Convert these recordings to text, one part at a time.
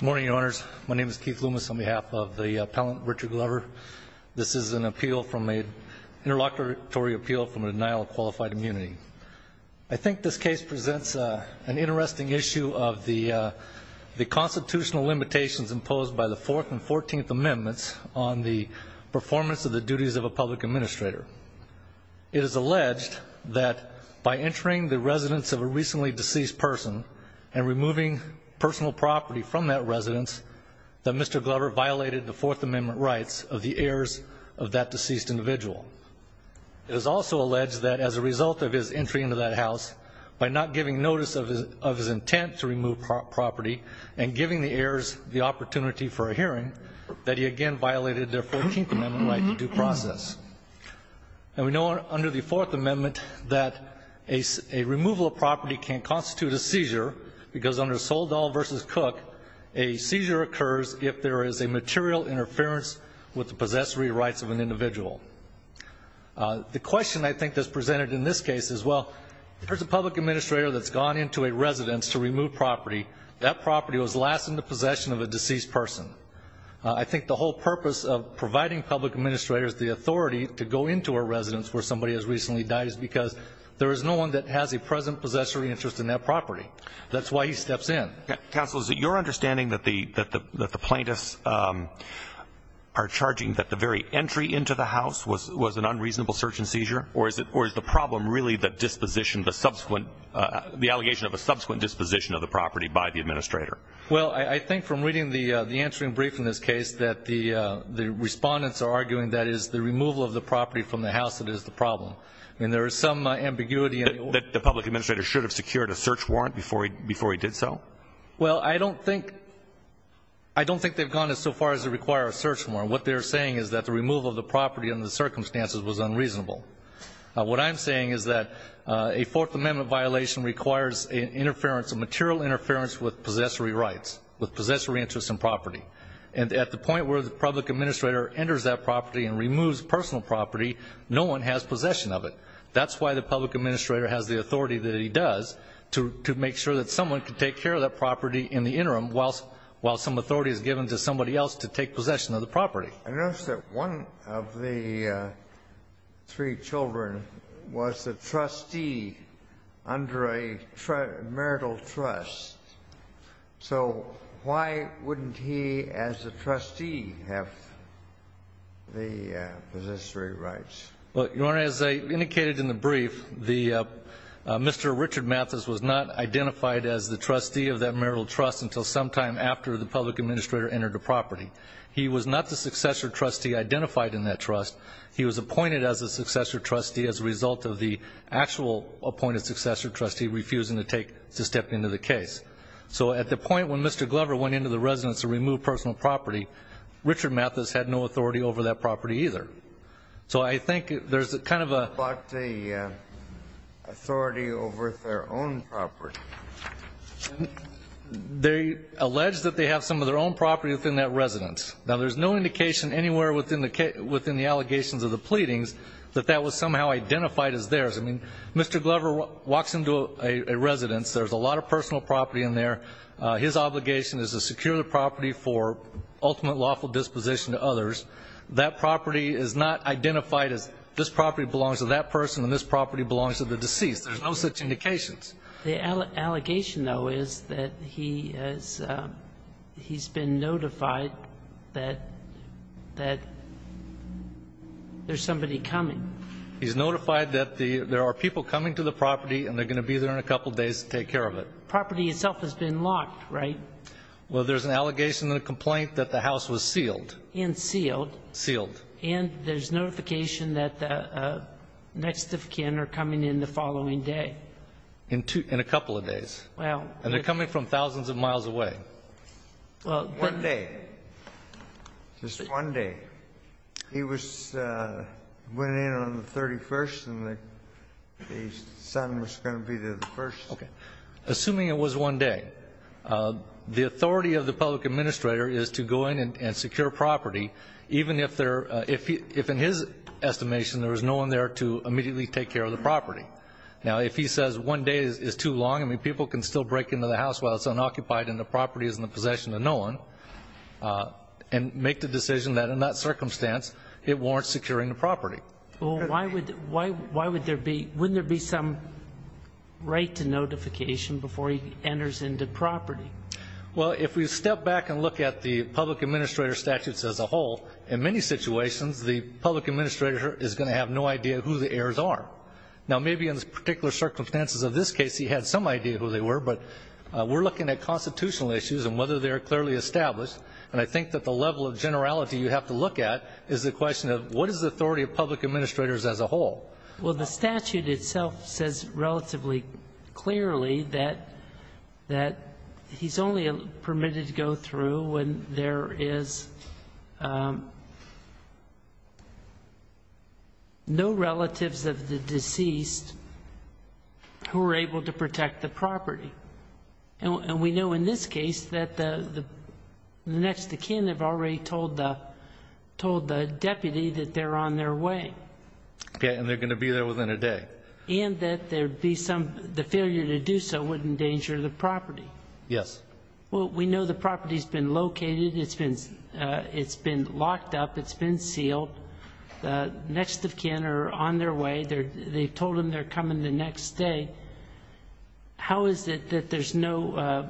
Good morning, your honors. My name is Keith Loomis on behalf of the appellant Richard Glover. This is an appeal from a, an interlocutory appeal from a denial of qualified immunity. I think this case presents an interesting issue of the constitutional limitations imposed by the 4th and 14th amendments on the performance of the duties of a public administrator. It is alleged that by entering the residence of a recently deceased person and removing personal property from that residence, that Mr. Glover violated the 4th amendment rights of the heirs of that deceased individual. It is also alleged that as a result of his entry into that house, by not giving notice of his intent to remove property and giving the heirs the opportunity for a hearing, that he again violated their 14th amendment right to due process. And we know under the 4th amendment that a removal of property can constitute a seizure, because under Soldal v. Cook, a seizure occurs if there is a material interference with the possessory rights of an individual. The question I think that's presented in this case is, well, there's a public administrator that's gone into a residence to remove property. That property was last in the possession of a deceased person. I think the whole purpose of providing public administrators the authority to go into a residence where somebody has property. That's why he steps in. Counsel, is it your understanding that the plaintiffs are charging that the very entry into the house was an unreasonable search and seizure? Or is the problem really the disposition, the subsequent, the allegation of a subsequent disposition of the property by the administrator? Well, I think from reading the answering brief in this case, that the respondents are arguing that it is the removal of the property from the house that is the problem. I mean, there is some ambiguity. That the public administrator should have secured a search warrant before he did so? Well, I don't think they've gone as far as to require a search warrant. What they're saying is that the removal of the property under the circumstances was unreasonable. What I'm saying is that a Fourth Amendment violation requires a material interference with possessory rights, with possessory interests in property. And at the point where the public administrator enters that property and removes personal property, no one has possession of it. That's why the public administrator has the authority that he does, to make sure that someone can take care of that property in the interim, while some authority is given to somebody else to take possession of the property. I notice that one of the three children was a trustee under a marital trust. So why wouldn't he, as a trustee, have the possessory rights? Your Honor, as I indicated in the brief, Mr. Richard Mathis was not identified as the trustee of that marital trust until sometime after the public administrator entered the property. He was not the successor trustee identified in that trust. He was appointed as a successor trustee as a result of the actual appointed successor trustee refusing to take, to step into the case. So at the point when Mr. Glover went into the residence to remove personal property, Richard Mathis had no authority over that property either. So I think there's a kind of a... What about the authority over their own property? They allege that they have some of their own property within that residence. Now there's no indication anywhere within the allegations of the pleadings that that was somehow identified as theirs. I mean, Mr. Glover walks into a residence, there's a lot of personal property in there. His obligation is to secure the property for ultimate lawful disposition to others. That property is not identified as this property belongs to that person and this property belongs to the deceased. There's no such indications. The allegation, though, is that he has been notified that there's somebody coming. He's notified that there are people coming to the property and they're going to be there in a couple of days to take care of it. But the property itself has been locked, right? Well, there's an allegation and a complaint that the house was sealed. And sealed. Sealed. And there's notification that the next of kin are coming in the following day. In a couple of days. Well... And they're coming from thousands of miles away. Well... One day. Just one day. He was going in on the 31st and the son was going to be there the 1st. Assuming it was one day. The authority of the public administrator is to go in and secure property even if in his estimation there was no one there to immediately take care of the property. Now, if he says one day is too long, people can still break into the house while it's unoccupied and the property is in the possession of no one and make the decision that in that circumstance it warrants securing the property. Well, why would there be... Wouldn't there be some right to notification before he enters into property? Well, if we step back and look at the public administrator statutes as a whole, in many situations the public administrator is going to have no idea who the heirs are. Now, maybe in particular circumstances of this case he had some idea who they were, but we're looking at constitutional issues and whether they're clearly established. And I think that the level of generality you have to look at is the question of what is the authority of public administrators as a whole? Well, the statute itself says relatively clearly that he's only permitted to go through when there is no relatives of the deceased who are able to protect the property. And we know in this case that the next of kin have already told the deputy that they're on their way. Okay, and they're going to be there within a day. And that the failure to do so would endanger the property. Yes. Well, we know the property's been located, it's been locked up, it's been sealed. The next of kin are on their way. They've told them they're coming the next day. How is it that there's no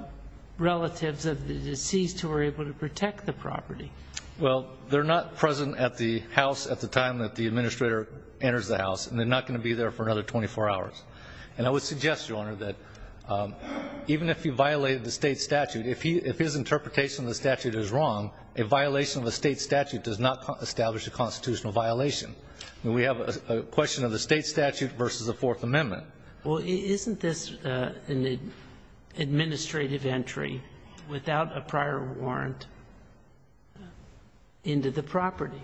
relatives of the deceased who are able to protect the property? Well, they're not present at the house at the time that the administrator enters the house, and they're not going to be there for another 24 hours. And I would suggest, Your Honor, that even if he violated the state statute, if his interpretation of the statute is wrong, a violation of the state statute does not establish a constitutional violation. We have a question of the state statute versus the Fourth Amendment. Well, isn't this an administrative entry without a prior warrant into the property?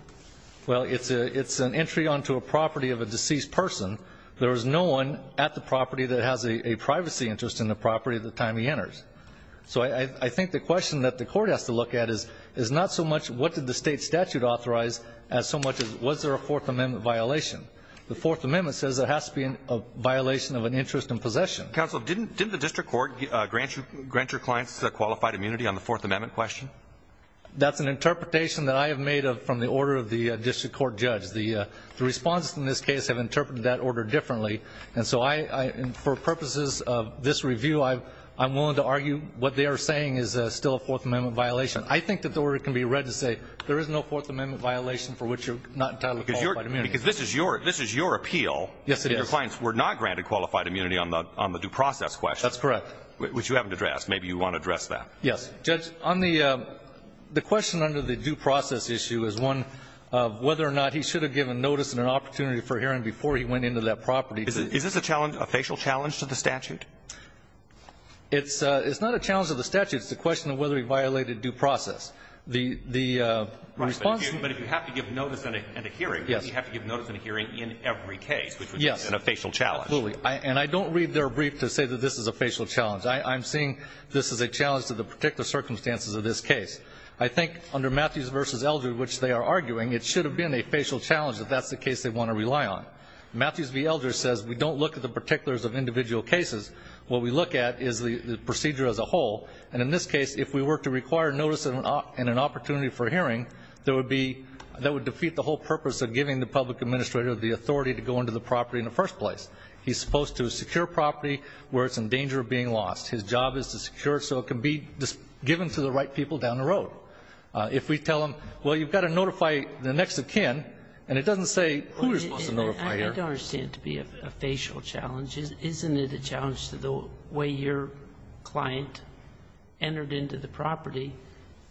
Well, it's an entry onto a property of a deceased person. There is no one at the property that has a privacy interest in the property at the time he enters. So I think the question that the court has to look at is not so much what did the state statute authorize as so much as was there a Fourth Amendment violation? The Fourth Amendment says there has to be a violation of an interest in possession. Counsel, didn't the district court grant your clients qualified immunity on the Fourth Amendment question? That's an interpretation that I have made from the order of the district court judge. The responses in this case have interpreted that order differently. And so for purposes of this review, I'm willing to argue what they are saying is still a Fourth Amendment violation. I think that the order can be read to say there is no Fourth Amendment violation for which you're not entitled to qualified immunity. Because this is your appeal. Yes, it is. Your clients were not granted qualified immunity on the due process question. That's correct. Which you haven't addressed. Maybe you want to address that. Yes. Judge, the question under the due process issue is one of whether or not he should have given notice and an opportunity for hearing before he went into that property. Is this a challenge, a facial challenge to the statute? It's not a challenge to the statute. It's a question of whether he violated due process. The response. But if you have to give notice and a hearing, you have to give notice and a hearing in every case, which would be a facial challenge. Absolutely. And I don't read their brief to say that this is a facial challenge. I'm seeing this as a challenge to the particular circumstances of this case. I think under Matthews v. Eldridge, which they are arguing, it should have been a facial challenge that that's the case they want to rely on. Matthews v. Eldridge says we don't look at the particulars of individual cases. What we look at is the procedure as a whole. And in this case, if we were to require notice and an opportunity for hearing, that would defeat the whole purpose of giving the public administrator the authority to go into the property in the first place. He's supposed to secure property where it's in danger of being lost. His job is to secure it so it can be given to the right people down the road. If we tell him, well, you've got to notify the next of kin, and it doesn't say who you're supposed to notify here. I don't understand it to be a facial challenge. Isn't it a challenge to the way your client entered into the property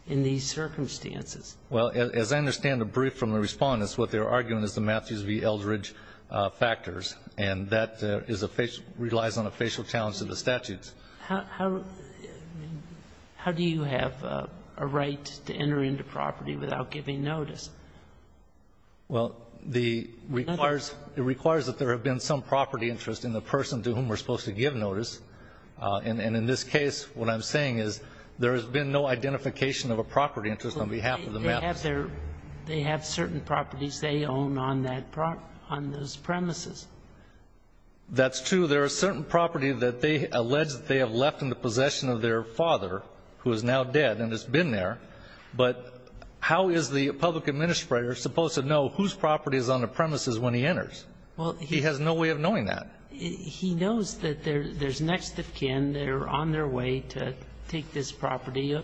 in these circumstances? Well, as I understand the brief from the respondents, what they're arguing is the Matthews v. Eldridge factors, and that relies on a facial challenge to the statutes. How do you have a right to enter into property without giving notice? Well, it requires that there have been some property interest in the person to whom we're supposed to give notice. And in this case, what I'm saying is there has been no identification of a property interest on behalf of the Matthews. They have certain properties they own on those premises. That's true. There are certain property that they allege that they have left in the possession of their father, who is now dead, and has been there. But how is the public administrator supposed to know whose property is on the premises when he enters? Well, he has no way of knowing that. He knows that there's next of kin that are on their way to take this property.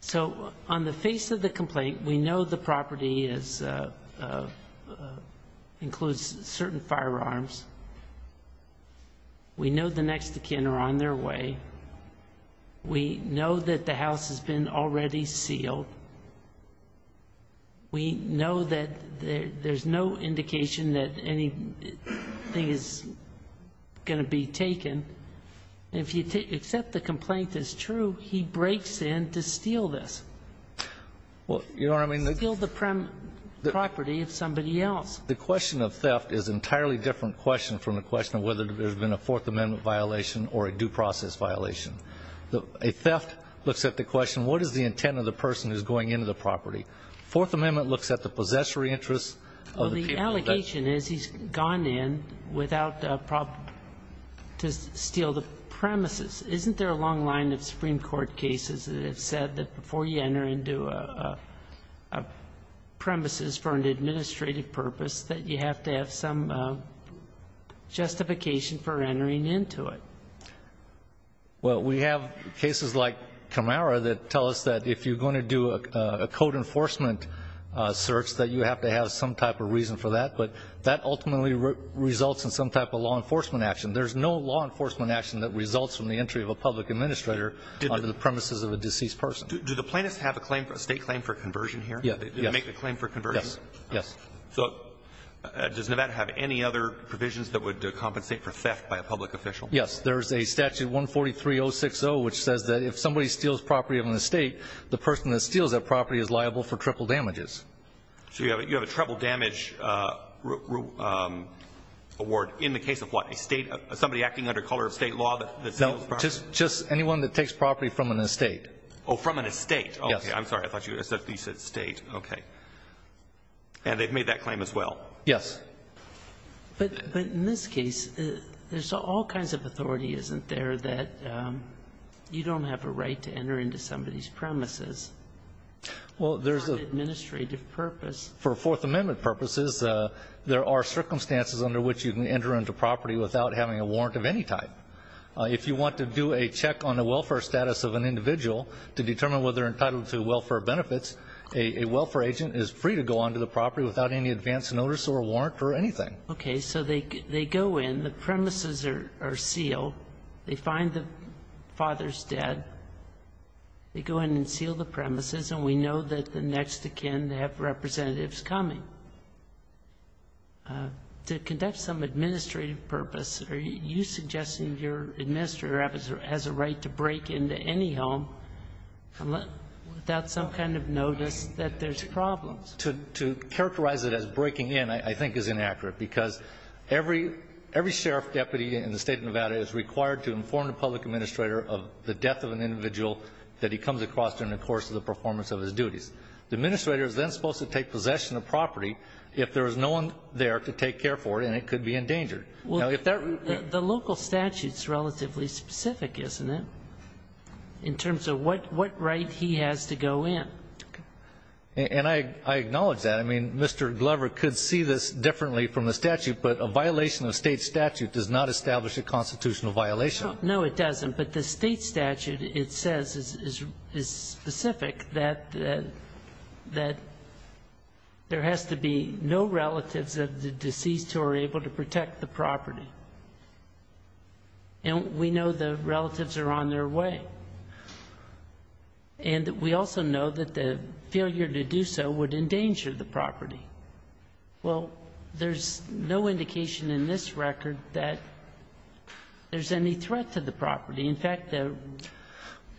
So on the face of the complaint, we know the property includes certain firearms. We know the next of kin are on their way. We know that the house has been already sealed. We know that there's no indication that anything is going to be taken. If you accept the complaint as true, he breaks in to steal this. Well, you know what I mean? Steal the property of somebody else. The question of theft is an entirely different question from the question of whether there's been a Fourth Amendment violation or a due process violation. A theft looks at the question, what is the intent of the person who's going into the property? Fourth Amendment looks at the possessory interests of the people that- Well, the allegation is he's gone in without a problem to steal the premises. Isn't there a long line of Supreme Court cases that have said that before you enter into a premises for an administrative purpose, that you have to have some justification for entering into it? Well, we have cases like Camara that tell us that if you're going to do a code enforcement search, that you have to have some type of reason for that, but that ultimately results in some type of law enforcement action. There's no law enforcement action that results from the entry of a public administrator under the premises of a deceased person. Do the plaintiffs have a state claim for conversion here? Yes. They make the claim for conversion? Yes. So, does Nevada have any other provisions that would compensate for theft by a public official? Yes, there's a statute 143060, which says that if somebody steals property of an estate, the person that steals that property is liable for triple damages. So you have a triple damage award in the case of what? Somebody acting under color of state law that steals property? Just anyone that takes property from an estate. Oh, from an estate. Yes. Okay, I'm sorry. I thought you said state. Okay. And they've made that claim as well? Yes. But in this case, there's all kinds of authority, isn't there, that you don't have a right to enter into somebody's premises? Well, there's a For an administrative purpose. For Fourth Amendment purposes, there are circumstances under which you can enter into property without having a warrant of any type. If you want to do a check on the welfare status of an individual to determine whether they're entitled to welfare benefits, a welfare agent is free to go onto the property without any advance notice or warrant or anything. Okay, so they go in, the premises are sealed, they find the father's dead. They go in and seal the premises, and we know that the next of kin have representatives coming. So to conduct some administrative purpose, are you suggesting your administrator has a right to break into any home without some kind of notice that there's problems? To characterize it as breaking in, I think, is inaccurate, because every sheriff deputy in the state of Nevada is required to inform the public administrator of the death of an individual that he comes across during the course of the performance of his duties. The administrator is then supposed to take possession of property if there is no one there to take care for it, and it could be endangered. Now, if that- The local statute's relatively specific, isn't it, in terms of what right he has to go in? And I acknowledge that. I mean, Mr. Glover could see this differently from the statute, but a violation of state statute does not establish a constitutional violation. No, it doesn't. But the state statute, it says, is specific that there has to be no relatives of the deceased who are able to protect the property. And we know the relatives are on their way. And we also know that the failure to do so would endanger the property. Well, there's no indication in this record that there's any threat to the property. In fact, there-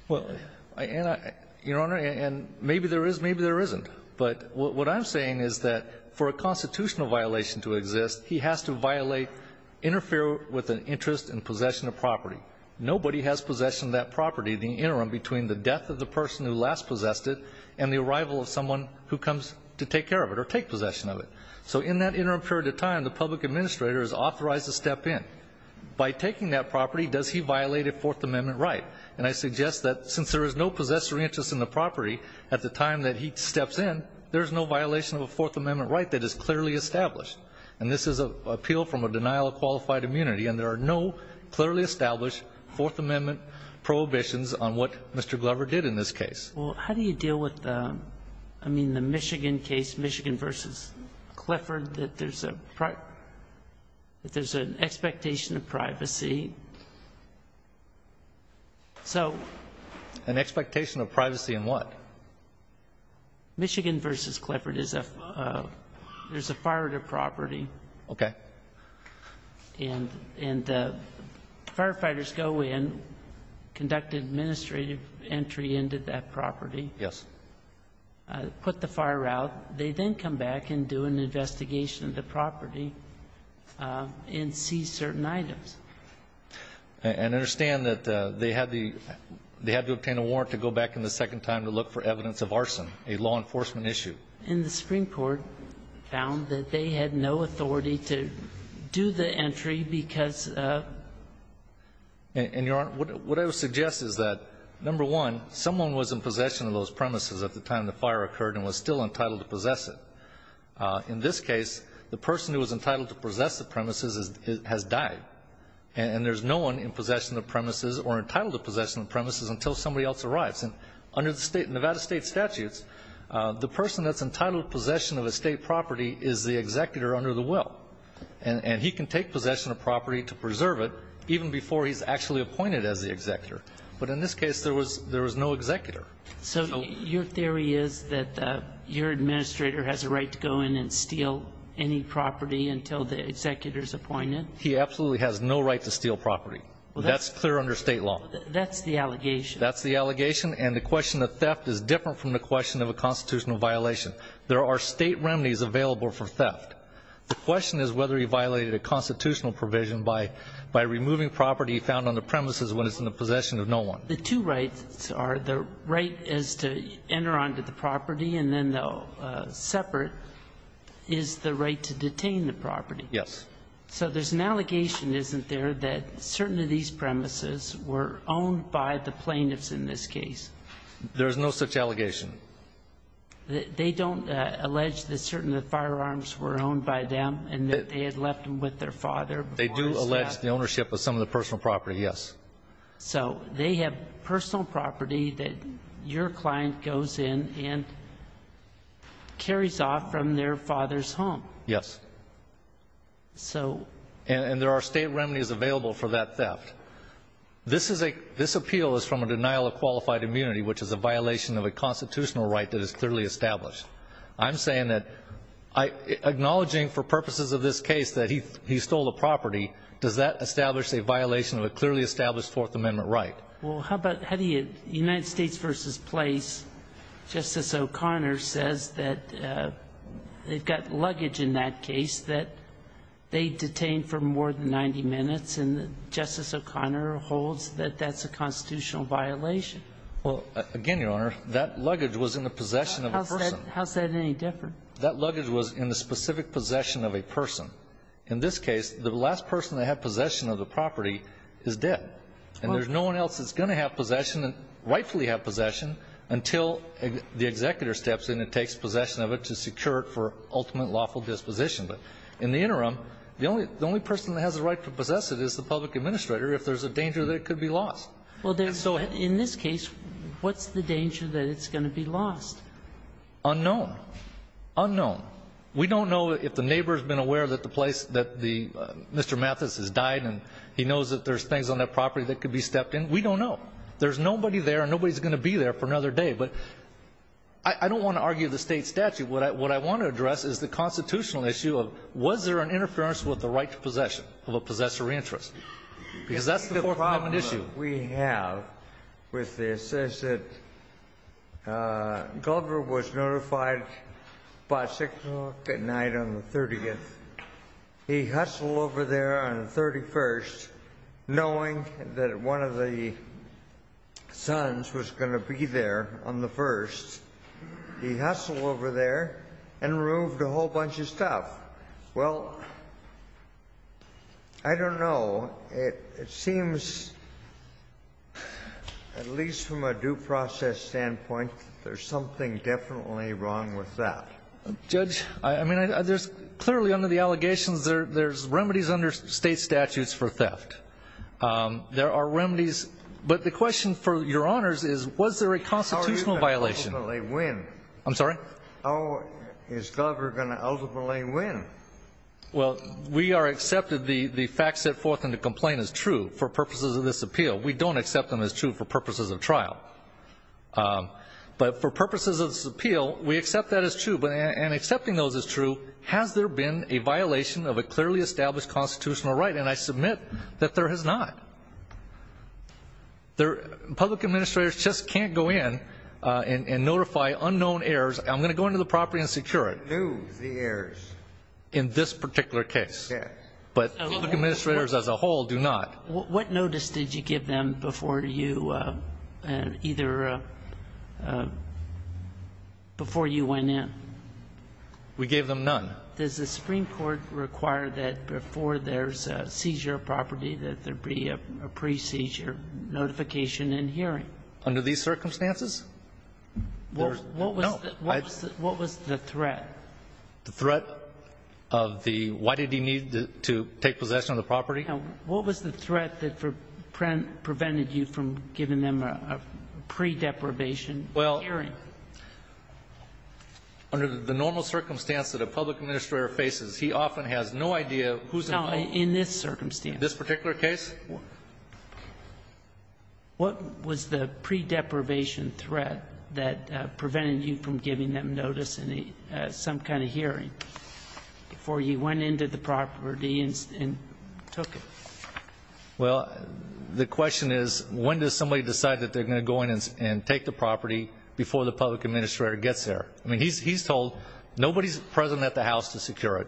Well, Anna, Your Honor, and maybe there is, maybe there isn't. But what I'm saying is that for a constitutional violation to exist, he has to violate, interfere with an interest in possession of property. Nobody has possession of that property in the interim between the death of the person who last possessed it and the arrival of someone who comes to take care of it or take possession of it. So in that interim period of time, the public administrator is authorized to step in. By taking that property, does he violate a Fourth Amendment right? And I suggest that since there is no possessory interest in the property at the time that he steps in, there's no violation of a Fourth Amendment right that is clearly established. And this is an appeal from a denial of qualified immunity, and there are no clearly established Fourth Amendment prohibitions on what Mr. Glover did in this case. Well, how do you deal with the, I mean, the Michigan case, Michigan v. Clifford, that there's a, that there's an expectation of privacy? So- An expectation of privacy in what? Michigan v. Clifford is a, there's a fire at a property. Okay. And, and firefighters go in, conduct an administrative entry into that property. Yes. Put the fire out. They then come back and do an investigation of the property and see certain items. And understand that they had the, they had to obtain a warrant to go back in the second time to look for evidence of arson, a law enforcement issue. And the Supreme Court found that they had no authority to do the entry because of- And, and Your Honor, what I would suggest is that, number one, someone was in possession of those premises at the time the fire occurred and was still entitled to possess it. In this case, the person who was entitled to possess the premises is, has died. And there's no one in possession of premises or entitled to possession of premises until somebody else arrives. And under the state, Nevada state statutes, the person that's entitled to possession of a state property is the executor under the will. And, and he can take possession of property to preserve it, even before he's actually appointed as the executor. But in this case, there was, there was no executor. So your theory is that your administrator has a right to go in and steal any property until the executor's appointed? He absolutely has no right to steal property. That's clear under state law. That's the allegation. That's the allegation, and the question of theft is different from the question of a constitutional violation. There are state remedies available for theft. The question is whether he violated a constitutional provision by, by removing property found on the premises when it's in the possession of no one. The two rights are, the right is to enter onto the property and then the separate is the right to detain the property. Yes. So there's an allegation, isn't there, that certain of these premises were owned by the plaintiffs in this case? There's no such allegation. They, they don't allege that certain of the firearms were owned by them, and that they had left them with their father before his death? They do allege the ownership of some of the personal property, yes. So they have personal property that your client goes in and carries off from their father's home. Yes. So. And, and there are state remedies available for that theft. This is a, this appeal is from a denial of qualified immunity, which is a violation of a constitutional right that is clearly established. I'm saying that, I, acknowledging for purposes of this case that he, he stole a property, does that establish a violation of a clearly established Fourth Amendment right? Well, how about, how do you, United States versus place, Justice O'Connor says that they've got luggage in that case that they detained for more than 90 minutes, and Justice O'Connor holds that that's a constitutional violation. Well, again, Your Honor, that luggage was in the possession of a person. How's that any different? That luggage was in the specific possession of a person. In this case, the last person to have possession of the property is dead. And there's no one else that's going to have possession, and rightfully have possession until the executor steps in and takes possession of it to secure it for ultimate lawful disposition. But in the interim, the only, the only person that has the right to possess it is the public administrator if there's a danger that it could be lost. Well, in this case, what's the danger that it's going to be lost? Unknown. Unknown. We don't know if the neighbor's been aware that the place, that the, Mr. Mathis has died, and he knows that there's things on that property that could be stepped in. We don't know. There's nobody there, and nobody's going to be there for another day. But I don't want to argue the state statute. What I want to address is the constitutional issue of, was there an interference with the right to possession of a possessory interest? Because that's the Fourth Amendment issue. The problem that we have with this is that Goldberg was notified about 6 o'clock at night on the 30th. He hustled over there on the 31st, knowing that one of the sons was going to be there on the 1st. He hustled over there and removed a whole bunch of stuff. Well, I don't know. It seems, at least from a due process standpoint, there's something definitely wrong with that. Judge, I mean, there's clearly under the allegations, there's remedies under state statutes for theft. There are remedies. But the question for your honors is, was there a constitutional violation? How are you going to ultimately win? I'm sorry? How is Goldberg going to ultimately win? Well, we are accepted, the facts set forth in the complaint is true for purposes of this appeal. We don't accept them as true for purposes of trial. But for purposes of this appeal, we accept that as true. But in accepting those as true, has there been a violation of a clearly established constitutional right? And I submit that there has not. Public administrators just can't go in and notify unknown heirs. I'm going to go into the property and secure it. Who's the heirs? In this particular case. Yes. But public administrators as a whole do not. What notice did you give them before you went in? We gave them none. Does the Supreme Court require that before there's a seizure of property, that there be a pre-seizure notification and hearing? Under these circumstances? No. What was the threat? The threat of the why did he need to take possession of the property? What was the threat that prevented you from giving them a pre-deprivation hearing? Well, under the normal circumstance that a public administrator faces, he often has no idea who's involved. No, in this circumstance. In this particular case? What was the pre-deprivation threat that prevented you from giving them notice and some kind of hearing before you went into the property and took it? Well, the question is, when does somebody decide that they're going to go in and take the property before the public administrator gets there? I mean, he's told nobody's present at the house to secure it.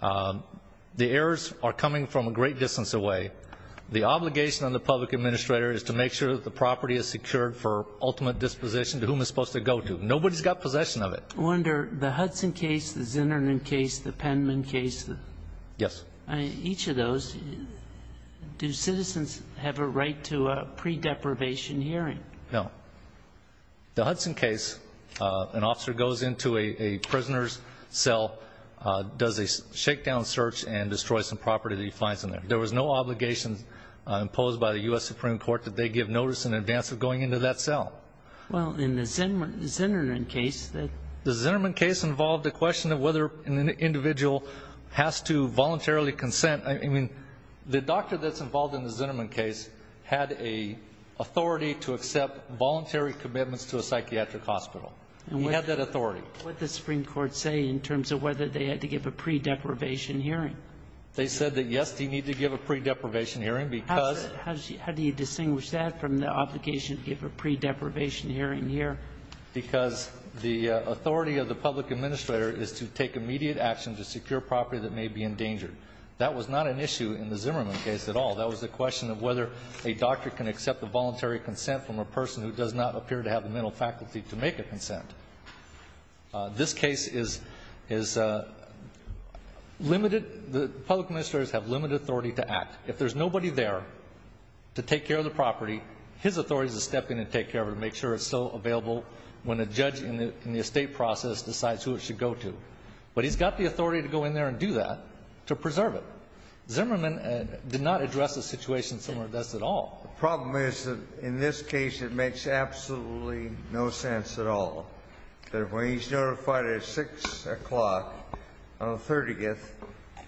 The errors are coming from a great distance away. The obligation on the public administrator is to make sure that the property is secured for ultimate disposition to whom it's supposed to go to. Nobody's got possession of it. Under the Hudson case, the Zinnerman case, the Penman case? Yes. Each of those, do citizens have a right to a pre-deprivation hearing? No. The Hudson case, an officer goes into a prisoner's cell, does a shakedown search and destroys some property that he finds in there. There was no obligation imposed by the U.S. Supreme Court that they give notice in advance of going into that cell. Well, in the Zinnerman case, the question of whether an individual has to voluntarily consent, I mean, the doctor that's involved in the Zinnerman case had an authority to accept voluntary commitments to a psychiatric hospital. He had that authority. What did the Supreme Court say in terms of whether they had to give a pre-deprivation hearing? They said that, yes, they need to give a pre-deprivation hearing because How do you distinguish that from the obligation to give a pre-deprivation hearing here? Because the authority of the public administrator is to take immediate action to secure property that may be endangered. That was not an issue in the Zinnerman case at all. That was the question of whether a doctor can accept the voluntary consent from a person who does not appear to have the mental faculty to make a consent. This case is limited. The public administrators have limited authority to act. If there's nobody there to take care of the property, his authority is to step in and take care of it and make sure it's still available when a judge in the estate process decides who it should go to. But he's got the authority to go in there and do that, to preserve it. Zinnerman did not address a situation similar to this at all. The problem is that in this case it makes absolutely no sense at all that when he's notified at 6 o'clock on the 30th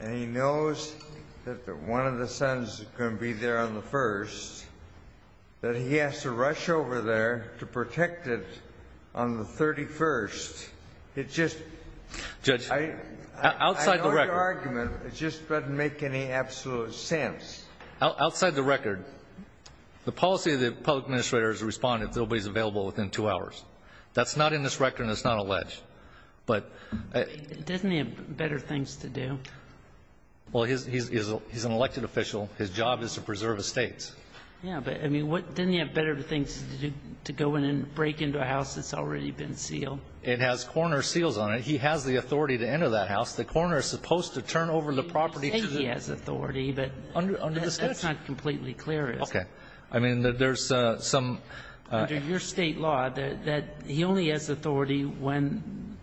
and he knows that one of the sons is going to be there on the 1st, that he has to rush over there to protect it on the 31st. It just outside the record. It just doesn't make any absolute sense. Outside the record, the policy of the public administrator is to respond if nobody is available within two hours. That's not in this record and it's not alleged. But he doesn't have better things to do. Well, he's an elected official. His job is to preserve estates. Yeah, but, I mean, didn't he have better things to do to go in and break into a house that's already been sealed? It has coroner seals on it. He has the authority to enter that house. The coroner is supposed to turn over the property to the ---- He says he has authority, but that's not completely clear. Okay. I mean, there's some ---- Under your State law, he only has authority when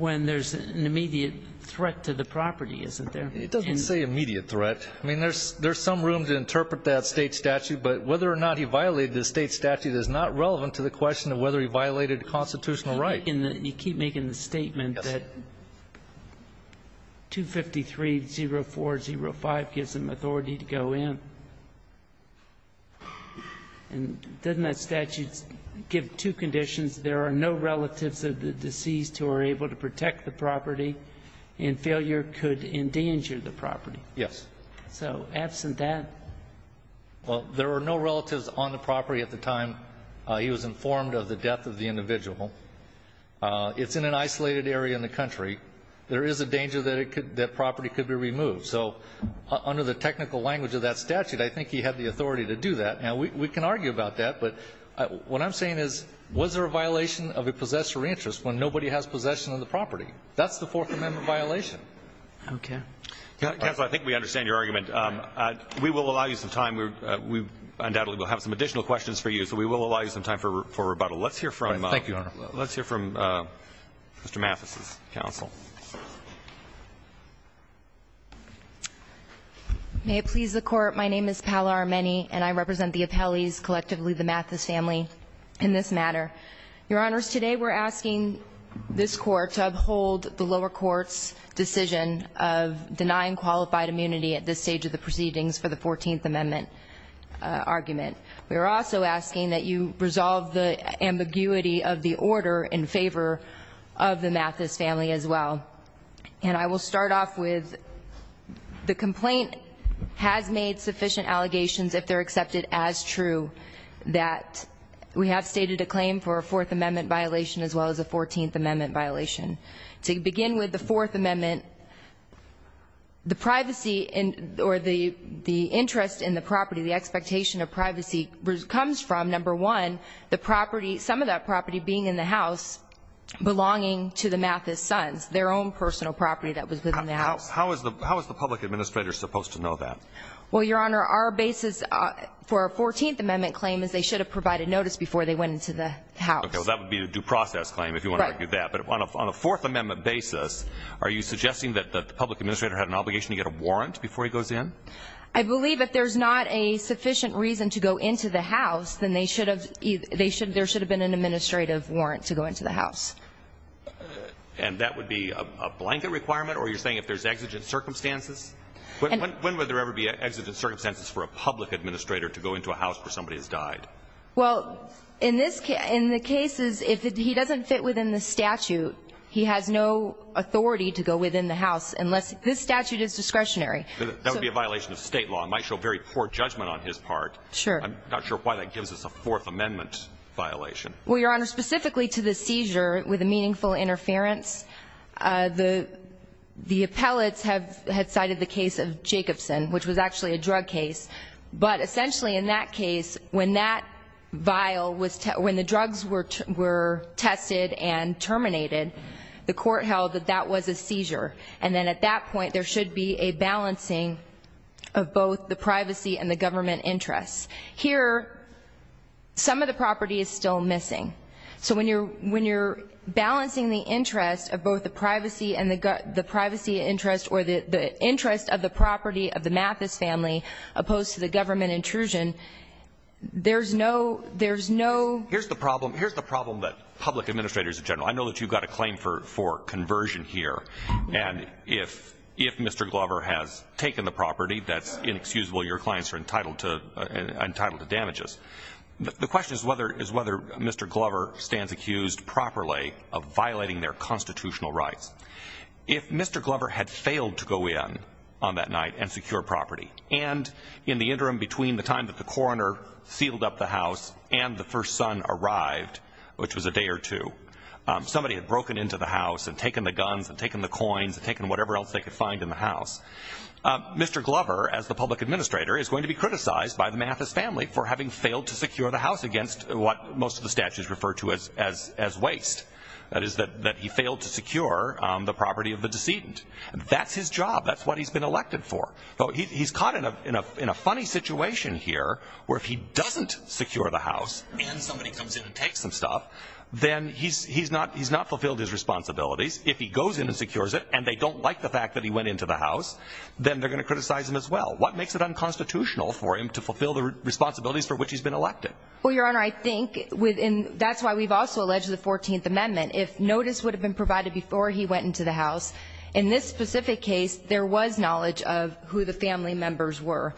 there's an immediate threat to the property, isn't there? It doesn't say immediate threat. I mean, there's some room to interpret that State statute, but whether or not he violated the State statute is not relevant to the question of whether he violated constitutional right. You keep making the statement that 253.04.05 gives him authority to go in, and doesn't that statute give two conditions? There are no relatives of the deceased who are able to protect the property and failure could endanger the property. Yes. So, absent that? Well, there are no relatives on the property at the time he was informed of the death of the individual. It's in an isolated area in the country. There is a danger that it could ---- that property could be removed. So, under the technical language of that statute, I think he had the authority to do that. Now, we can argue about that, but what I'm saying is, was there a violation of a possessor interest when nobody has possession of the property? That's the Fourth Amendment violation. Okay. Counsel, I think we understand your argument. We will allow you some time. We undoubtedly will have some additional questions for you, so we will allow you some time for rebuttal. Let's hear from ---- Thank you, Your Honor. Let's hear from Mr. Mathis's counsel. May it please the Court, my name is Pala Armeni, and I represent the Appellees, collectively the Mathis family, in this matter. Your Honors, today we're asking this Court to uphold the lower court's decision of denying qualified immunity at this stage of the proceedings for the Fourteenth Amendment argument. We are also asking that you resolve the ambiguity of the order in favor of the Mathis family as well. And I will start off with the complaint has made sufficient allegations, if they're accepted as true, that we have stated a claim for a Fourth Amendment violation as well as a Fourteenth Amendment violation. To begin with the Fourth Amendment, the privacy or the interest in the property, the expectation of privacy comes from, number one, the property, some of that property being in the house belonging to the Mathis sons, their own personal property that was within the house. How is the public administrator supposed to know that? Well, Your Honor, our basis for a Fourteenth Amendment claim is they should have provided notice before they went into the house. Okay, well that would be a due process claim if you want to argue that. But on a Fourth Amendment basis, are you suggesting that the public administrator had an obligation to get a warrant before he goes in? I believe if there's not a sufficient reason to go into the house, then they should have either, there should have been an administrative warrant to go into the house. And that would be a blanket requirement or you're saying if there's exigent circumstances? When would there ever be exigent circumstances for a public administrator to go into a house where somebody has died? Well, in this case, in the cases, if he doesn't fit within the statute, he has no authority to go within the house unless this statute is discretionary. That would be a violation of state law. It might show very poor judgment on his part. Sure. I'm not sure why that gives us a Fourth Amendment violation. Well, Your Honor, specifically to the seizure with a meaningful interference, the appellates have cited the case of Jacobson, which was actually a drug case. But essentially in that case, when that vial was, when the drugs were tested and terminated, the court held that that was a seizure. And then at that point, there should be a balancing of both the privacy and the government interests. Here, some of the property is still missing. So when you're balancing the interest of both the privacy and the privacy interest or the interest of the property of the Mathis family opposed to the government intrusion, there's no, there's no. Here's the problem. Here's the problem that public administrators in general, I know that you've got a claim for conversion here. And if, if Mr. Glover has taken the property, that's inexcusable. Your clients are entitled to, entitled to damages. The, the question is whether, is whether Mr. Glover stands accused properly of violating their constitutional rights. If Mr. Glover had failed to go in on that night and secure property, and in the interim between the time that the coroner sealed up the house and the first son arrived, which was a day or two, somebody had broken into the house and taken the guns and taken the coins and taken whatever else they could find in the house. Mr. Glover, as the public administrator, is going to be criticized by the Mathis family for having failed to secure the house against what most of the statutes refer to as, as, as waste. That is that, that he failed to secure the property of the decedent. That's his job. That's what he's been elected for. Though he, he's caught in a, in a, in a funny situation here, where if he doesn't secure the house and somebody comes in and If he goes in and secures it, and they don't like the fact that he went into the house, then they're going to criticize him as well. What makes it unconstitutional for him to fulfill the responsibilities for which he's been elected? Well, your honor, I think within, that's why we've also alleged the 14th amendment. If notice would have been provided before he went into the house, in this specific case, there was knowledge of who the family members were.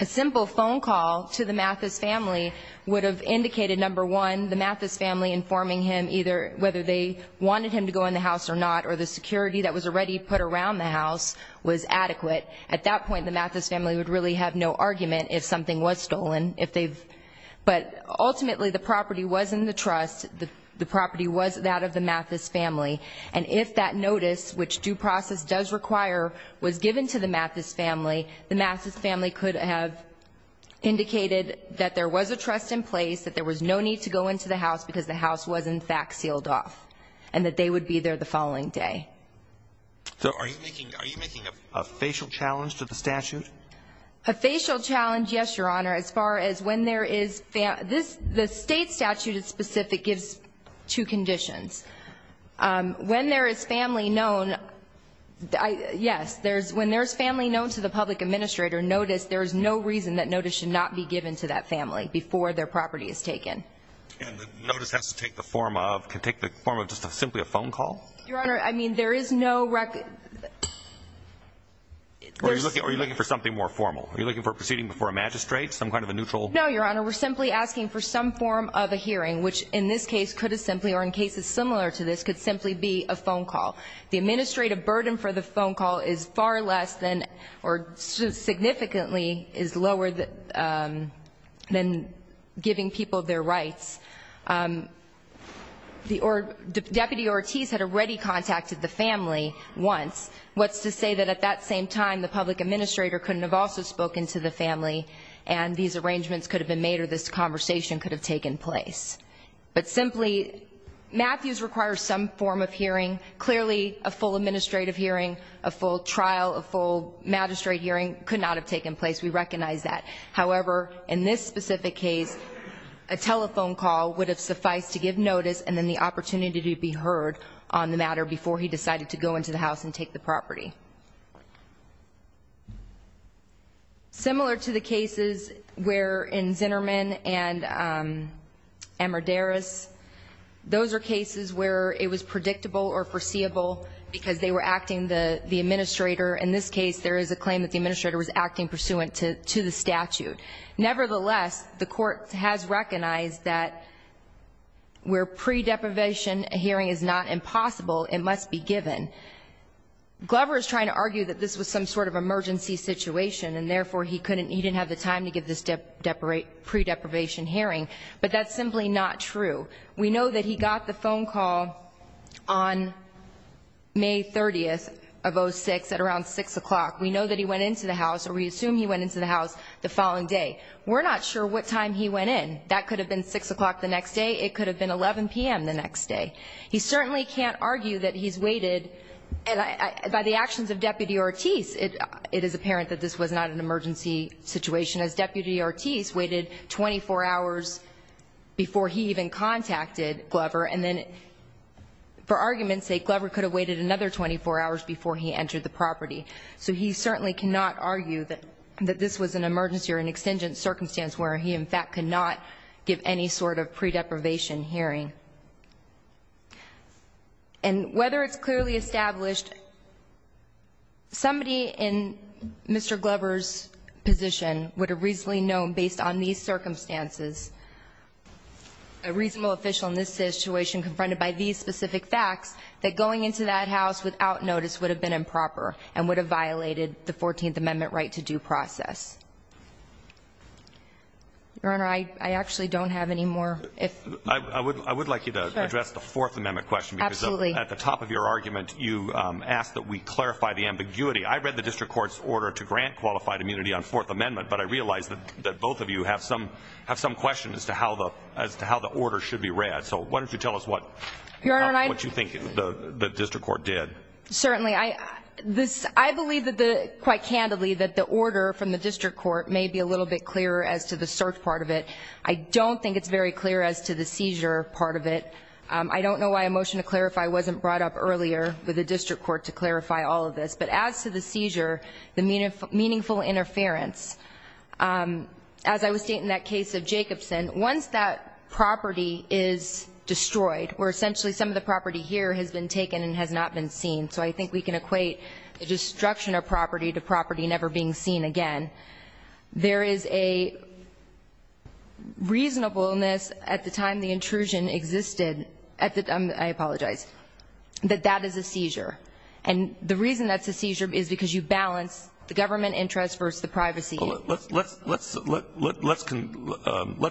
A simple phone call to the Mathis family would have indicated, number one, the Mathis family informing him either, whether they wanted him to go in the house or not, or the security that was already put around the house was adequate. At that point, the Mathis family would really have no argument if something was stolen, if they've, but ultimately, the property was in the trust. The property was that of the Mathis family, and if that notice, which due process does require, was given to the Mathis family, the Mathis family could have indicated that there was a trust in place, that there was no need to go into the house because the house was, in fact, sealed off, and that they would be there the following day. So are you making a facial challenge to the statute? A facial challenge, yes, your honor, as far as when there is, this, the state statute is specific, gives two conditions. When there is family known, yes, there's, when there's family known to the public administrator, notice, there is no reason that notice should not be given to that family if it's taken. And the notice has to take the form of, can take the form of just simply a phone call? Your honor, I mean, there is no record, there's. Or are you looking for something more formal? Are you looking for proceeding before a magistrate, some kind of a neutral? No, your honor, we're simply asking for some form of a hearing, which in this case could have simply, or in cases similar to this, could simply be a phone call. The administrative burden for the phone call is far less than, or significantly is lower than giving people their rights. The, or Deputy Ortiz had already contacted the family once. What's to say that at that same time, the public administrator couldn't have also spoken to the family, and these arrangements could have been made, or this conversation could have taken place. But simply, Matthews requires some form of hearing. Clearly, a full administrative hearing, a full trial, a full magistrate hearing could not have taken place. We recognize that. However, in this specific case, a telephone call would have sufficed to give notice, and then the opportunity to be heard on the matter before he decided to go into the house and take the property. Similar to the cases where in Zinnerman and Amadeus, those are cases where it is a claim that the administrator was acting pursuant to the statute. Nevertheless, the court has recognized that where pre-deprivation hearing is not impossible, it must be given. Glover is trying to argue that this was some sort of emergency situation, and therefore, he couldn't, he didn't have the time to give this pre-deprivation hearing, but that's simply not true. We know that he got the phone call on May 30th of 06 at around 6 o'clock. We know that he went into the house, or we assume he went into the house the following day. We're not sure what time he went in. That could have been 6 o'clock the next day. It could have been 11 PM the next day. He certainly can't argue that he's waited, and by the actions of Deputy Ortiz, it is apparent that this was not an emergency situation, as Deputy Ortiz waited 24 hours before he even contacted Glover, and then, for argument's sake, Glover could have waited another 24 hours before he entered the property. So he certainly cannot argue that this was an emergency or an extingent circumstance where he, in fact, could not give any sort of pre-deprivation hearing. And whether it's clearly established, somebody in Mr. Glover's position would have reasonably known, based on these circumstances, a reasonable official in this situation confronted by these specific facts, that going into that house without notice would have been improper and would have violated the 14th Amendment right to due process. Your Honor, I actually don't have any more. I would like you to address the Fourth Amendment question. Absolutely. At the top of your argument, you asked that we clarify the ambiguity. I read the district court's order to grant qualified immunity on Fourth Amendment. I realize that both of you have some questions as to how the order should be read. So why don't you tell us what you think the district court did. Certainly. I believe, quite candidly, that the order from the district court may be a little bit clearer as to the cert part of it. I don't think it's very clear as to the seizure part of it. I don't know why a motion to clarify wasn't brought up earlier with the district court to clarify all of this. But as to the seizure, the meaningful interference, as I would state in that case of Jacobson, once that property is destroyed, where essentially some of the property here has been taken and has not been seen, so I think we can equate the destruction of property to property never being seen again, there is a reasonableness at the time the intrusion existed, I apologize, that that is a seizure. And the reason that's a seizure is because you balance the government interest versus the privacy. Let's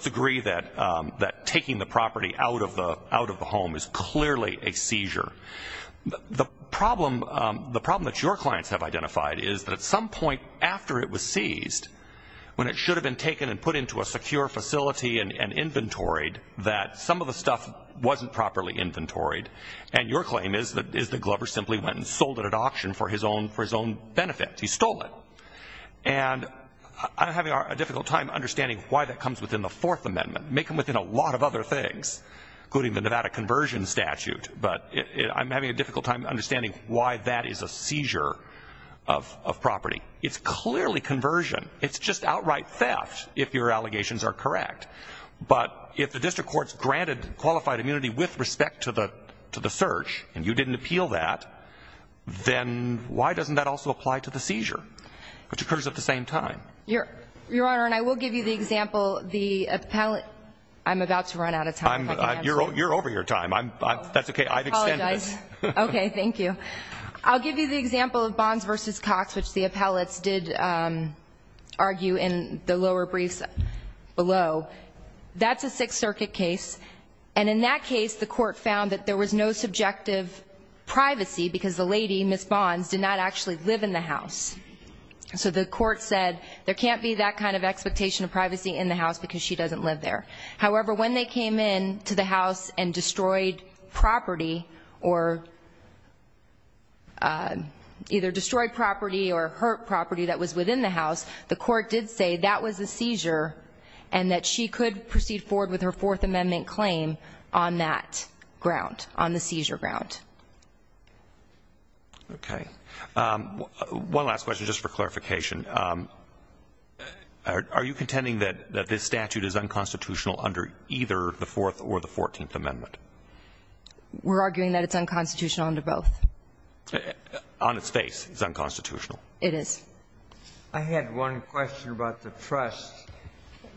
agree that taking the property out of the home is clearly a seizure. The problem that your clients have identified is that at some point after it was seized, when it should have been taken and put into a secure facility and inventoried, that some of the stuff wasn't properly inventoried, and your claim is that Glover simply went and sold it at auction for his own benefit. He stole it. And I'm having a difficult time understanding why that comes within the Fourth Amendment. Make them within a lot of other things, including the Nevada Conversion Statute, but I'm having a difficult time understanding why that is a seizure of property. It's clearly conversion. It's just outright theft if your allegations are correct. But if the district court's granted qualified immunity with respect to the search, and you didn't appeal that, then why doesn't that also apply to the seizure, which occurs at the same time? Your Honor, and I will give you the example. The appellate – I'm about to run out of time, if I can answer. You're over your time. I'm – that's okay. I've extended it. I apologize. Okay. Thank you. I'll give you the example of Bonds v. Cox, which the appellates did argue in the lower briefs below. That's a Sixth Circuit case. And in that case, the court found that there was no subjective privacy because the lady, Ms. Bonds, did not actually live in the house. So the court said there can't be that kind of expectation of privacy in the house because she doesn't live there. However, when they came in to the house and destroyed property or – either destroyed property or hurt property that was within the house, the court did say that was a seizure and that she could proceed forward with her Fourth Amendment claim on that ground, on the seizure ground. Okay. One last question, just for clarification. Are you contending that this statute is unconstitutional under either the Fourth or the Fourteenth Amendment? We're arguing that it's unconstitutional under both. On its face, it's unconstitutional. It is. I had one question about the trust.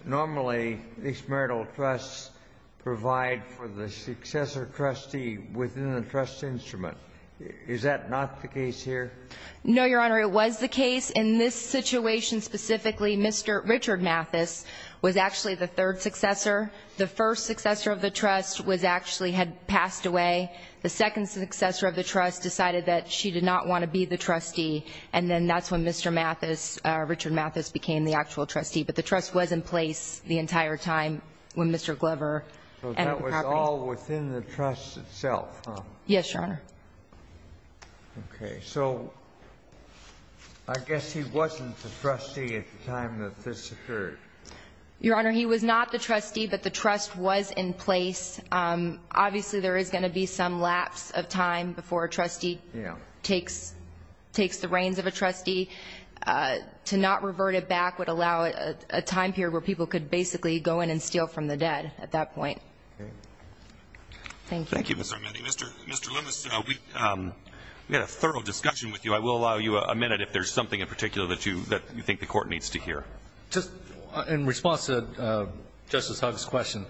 Normally, these marital trusts provide for the successor trustee within the trust instrument. Is that not the case here? No, Your Honor. It was the case. In this situation specifically, Mr. Richard Mathis was actually the third successor. The first successor of the trust was actually – had passed away. The second successor of the trust decided that she did not want to be the trustee, and then that's when Mr. Mathis, Richard Mathis, became the actual trustee. The trust was in place the entire time when Mr. Glover – So that was all within the trust itself, huh? Yes, Your Honor. Okay. So I guess he wasn't the trustee at the time that this occurred. Your Honor, he was not the trustee, but the trust was in place. Obviously, there is going to be some lapse of time before a trustee takes the reins of a trustee. To not revert it back would allow a time period where people could basically go in and steal from the dead at that point. Thank you. Thank you, Ms. Armendi. Mr. Lemus, we had a thorough discussion with you. I will allow you a minute if there's something in particular that you think the Court needs to hear. Just in response to Justice Huggs' question,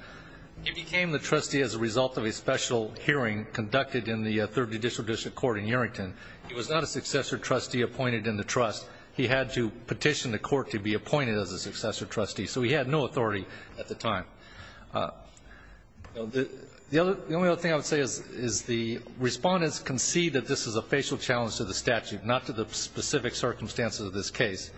he became the trustee as a result of a special hearing conducted in the Third Judicial District Court in Errington. He was not a successor trustee appointed in the trust. He had to petition the Court to be appointed as a successor trustee, so he had no authority at the time. The only other thing I would say is the respondents concede that this is a facial challenge to the statute, not to the specific circumstances of this case.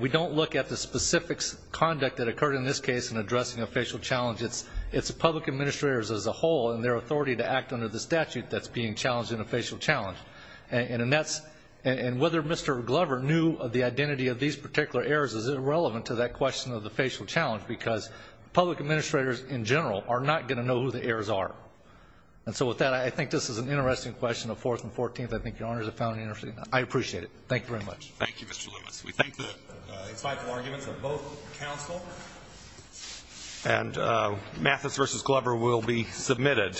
We don't look at the specific conduct that occurred in this case in addressing a facial challenge. It's the public administrators as a whole and their authority to act under the statute that's being challenged in a facial challenge. And whether Mr. Glover knew the identity of these particular errors is irrelevant to that question of the facial challenge because public administrators in general are not going to know who the errors are. And so with that, I think this is an interesting question of Fourth and Fourteenth. I think your Honors have found it interesting. I appreciate it. Thank you very much. Thank you, Mr. Lemus. We thank the insightful arguments of both counsel. And Mathis v. Glover will be submitted.